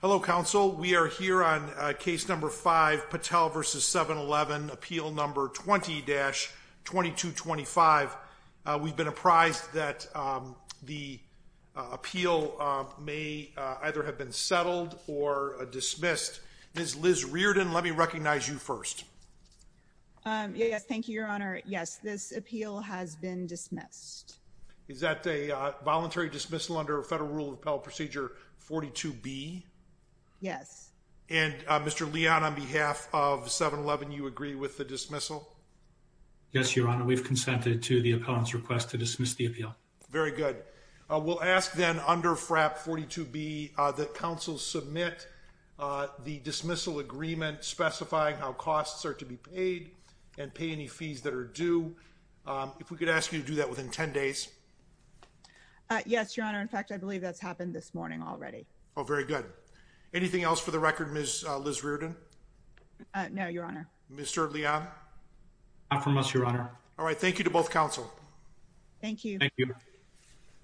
Hello, Counsel. We are here on Case No. 5, Patel v. 7-Eleven, Appeal No. 20-2225. We've been apprised that the appeal may either have been settled or dismissed. Ms. Liz Reardon, let me recognize you first. Yes, thank you, Your Honor. Yes, this appeal has been dismissed. Is that a voluntary dismissal under Federal Rule of Appellate Procedure 42B? Yes. And Mr. Leon, on behalf of 7-Eleven, you agree with the dismissal? Yes, Your Honor. We've consented to the opponent's request to dismiss the appeal. Very good. We'll ask then under FRAP 42B that counsel submit the dismissal agreement specifying how costs are to be paid and pay any fees that are incurred under FRAP 42B. Ms. Reardon, you have 10 days. Yes, Your Honor. In fact, I believe that's happened this morning already. Oh, very good. Anything else for the record, Ms. Liz Reardon? No, Your Honor. Mr. Leon? Not from us, Your Honor. All right. Thank you to both counsel. Thank you. Thank you.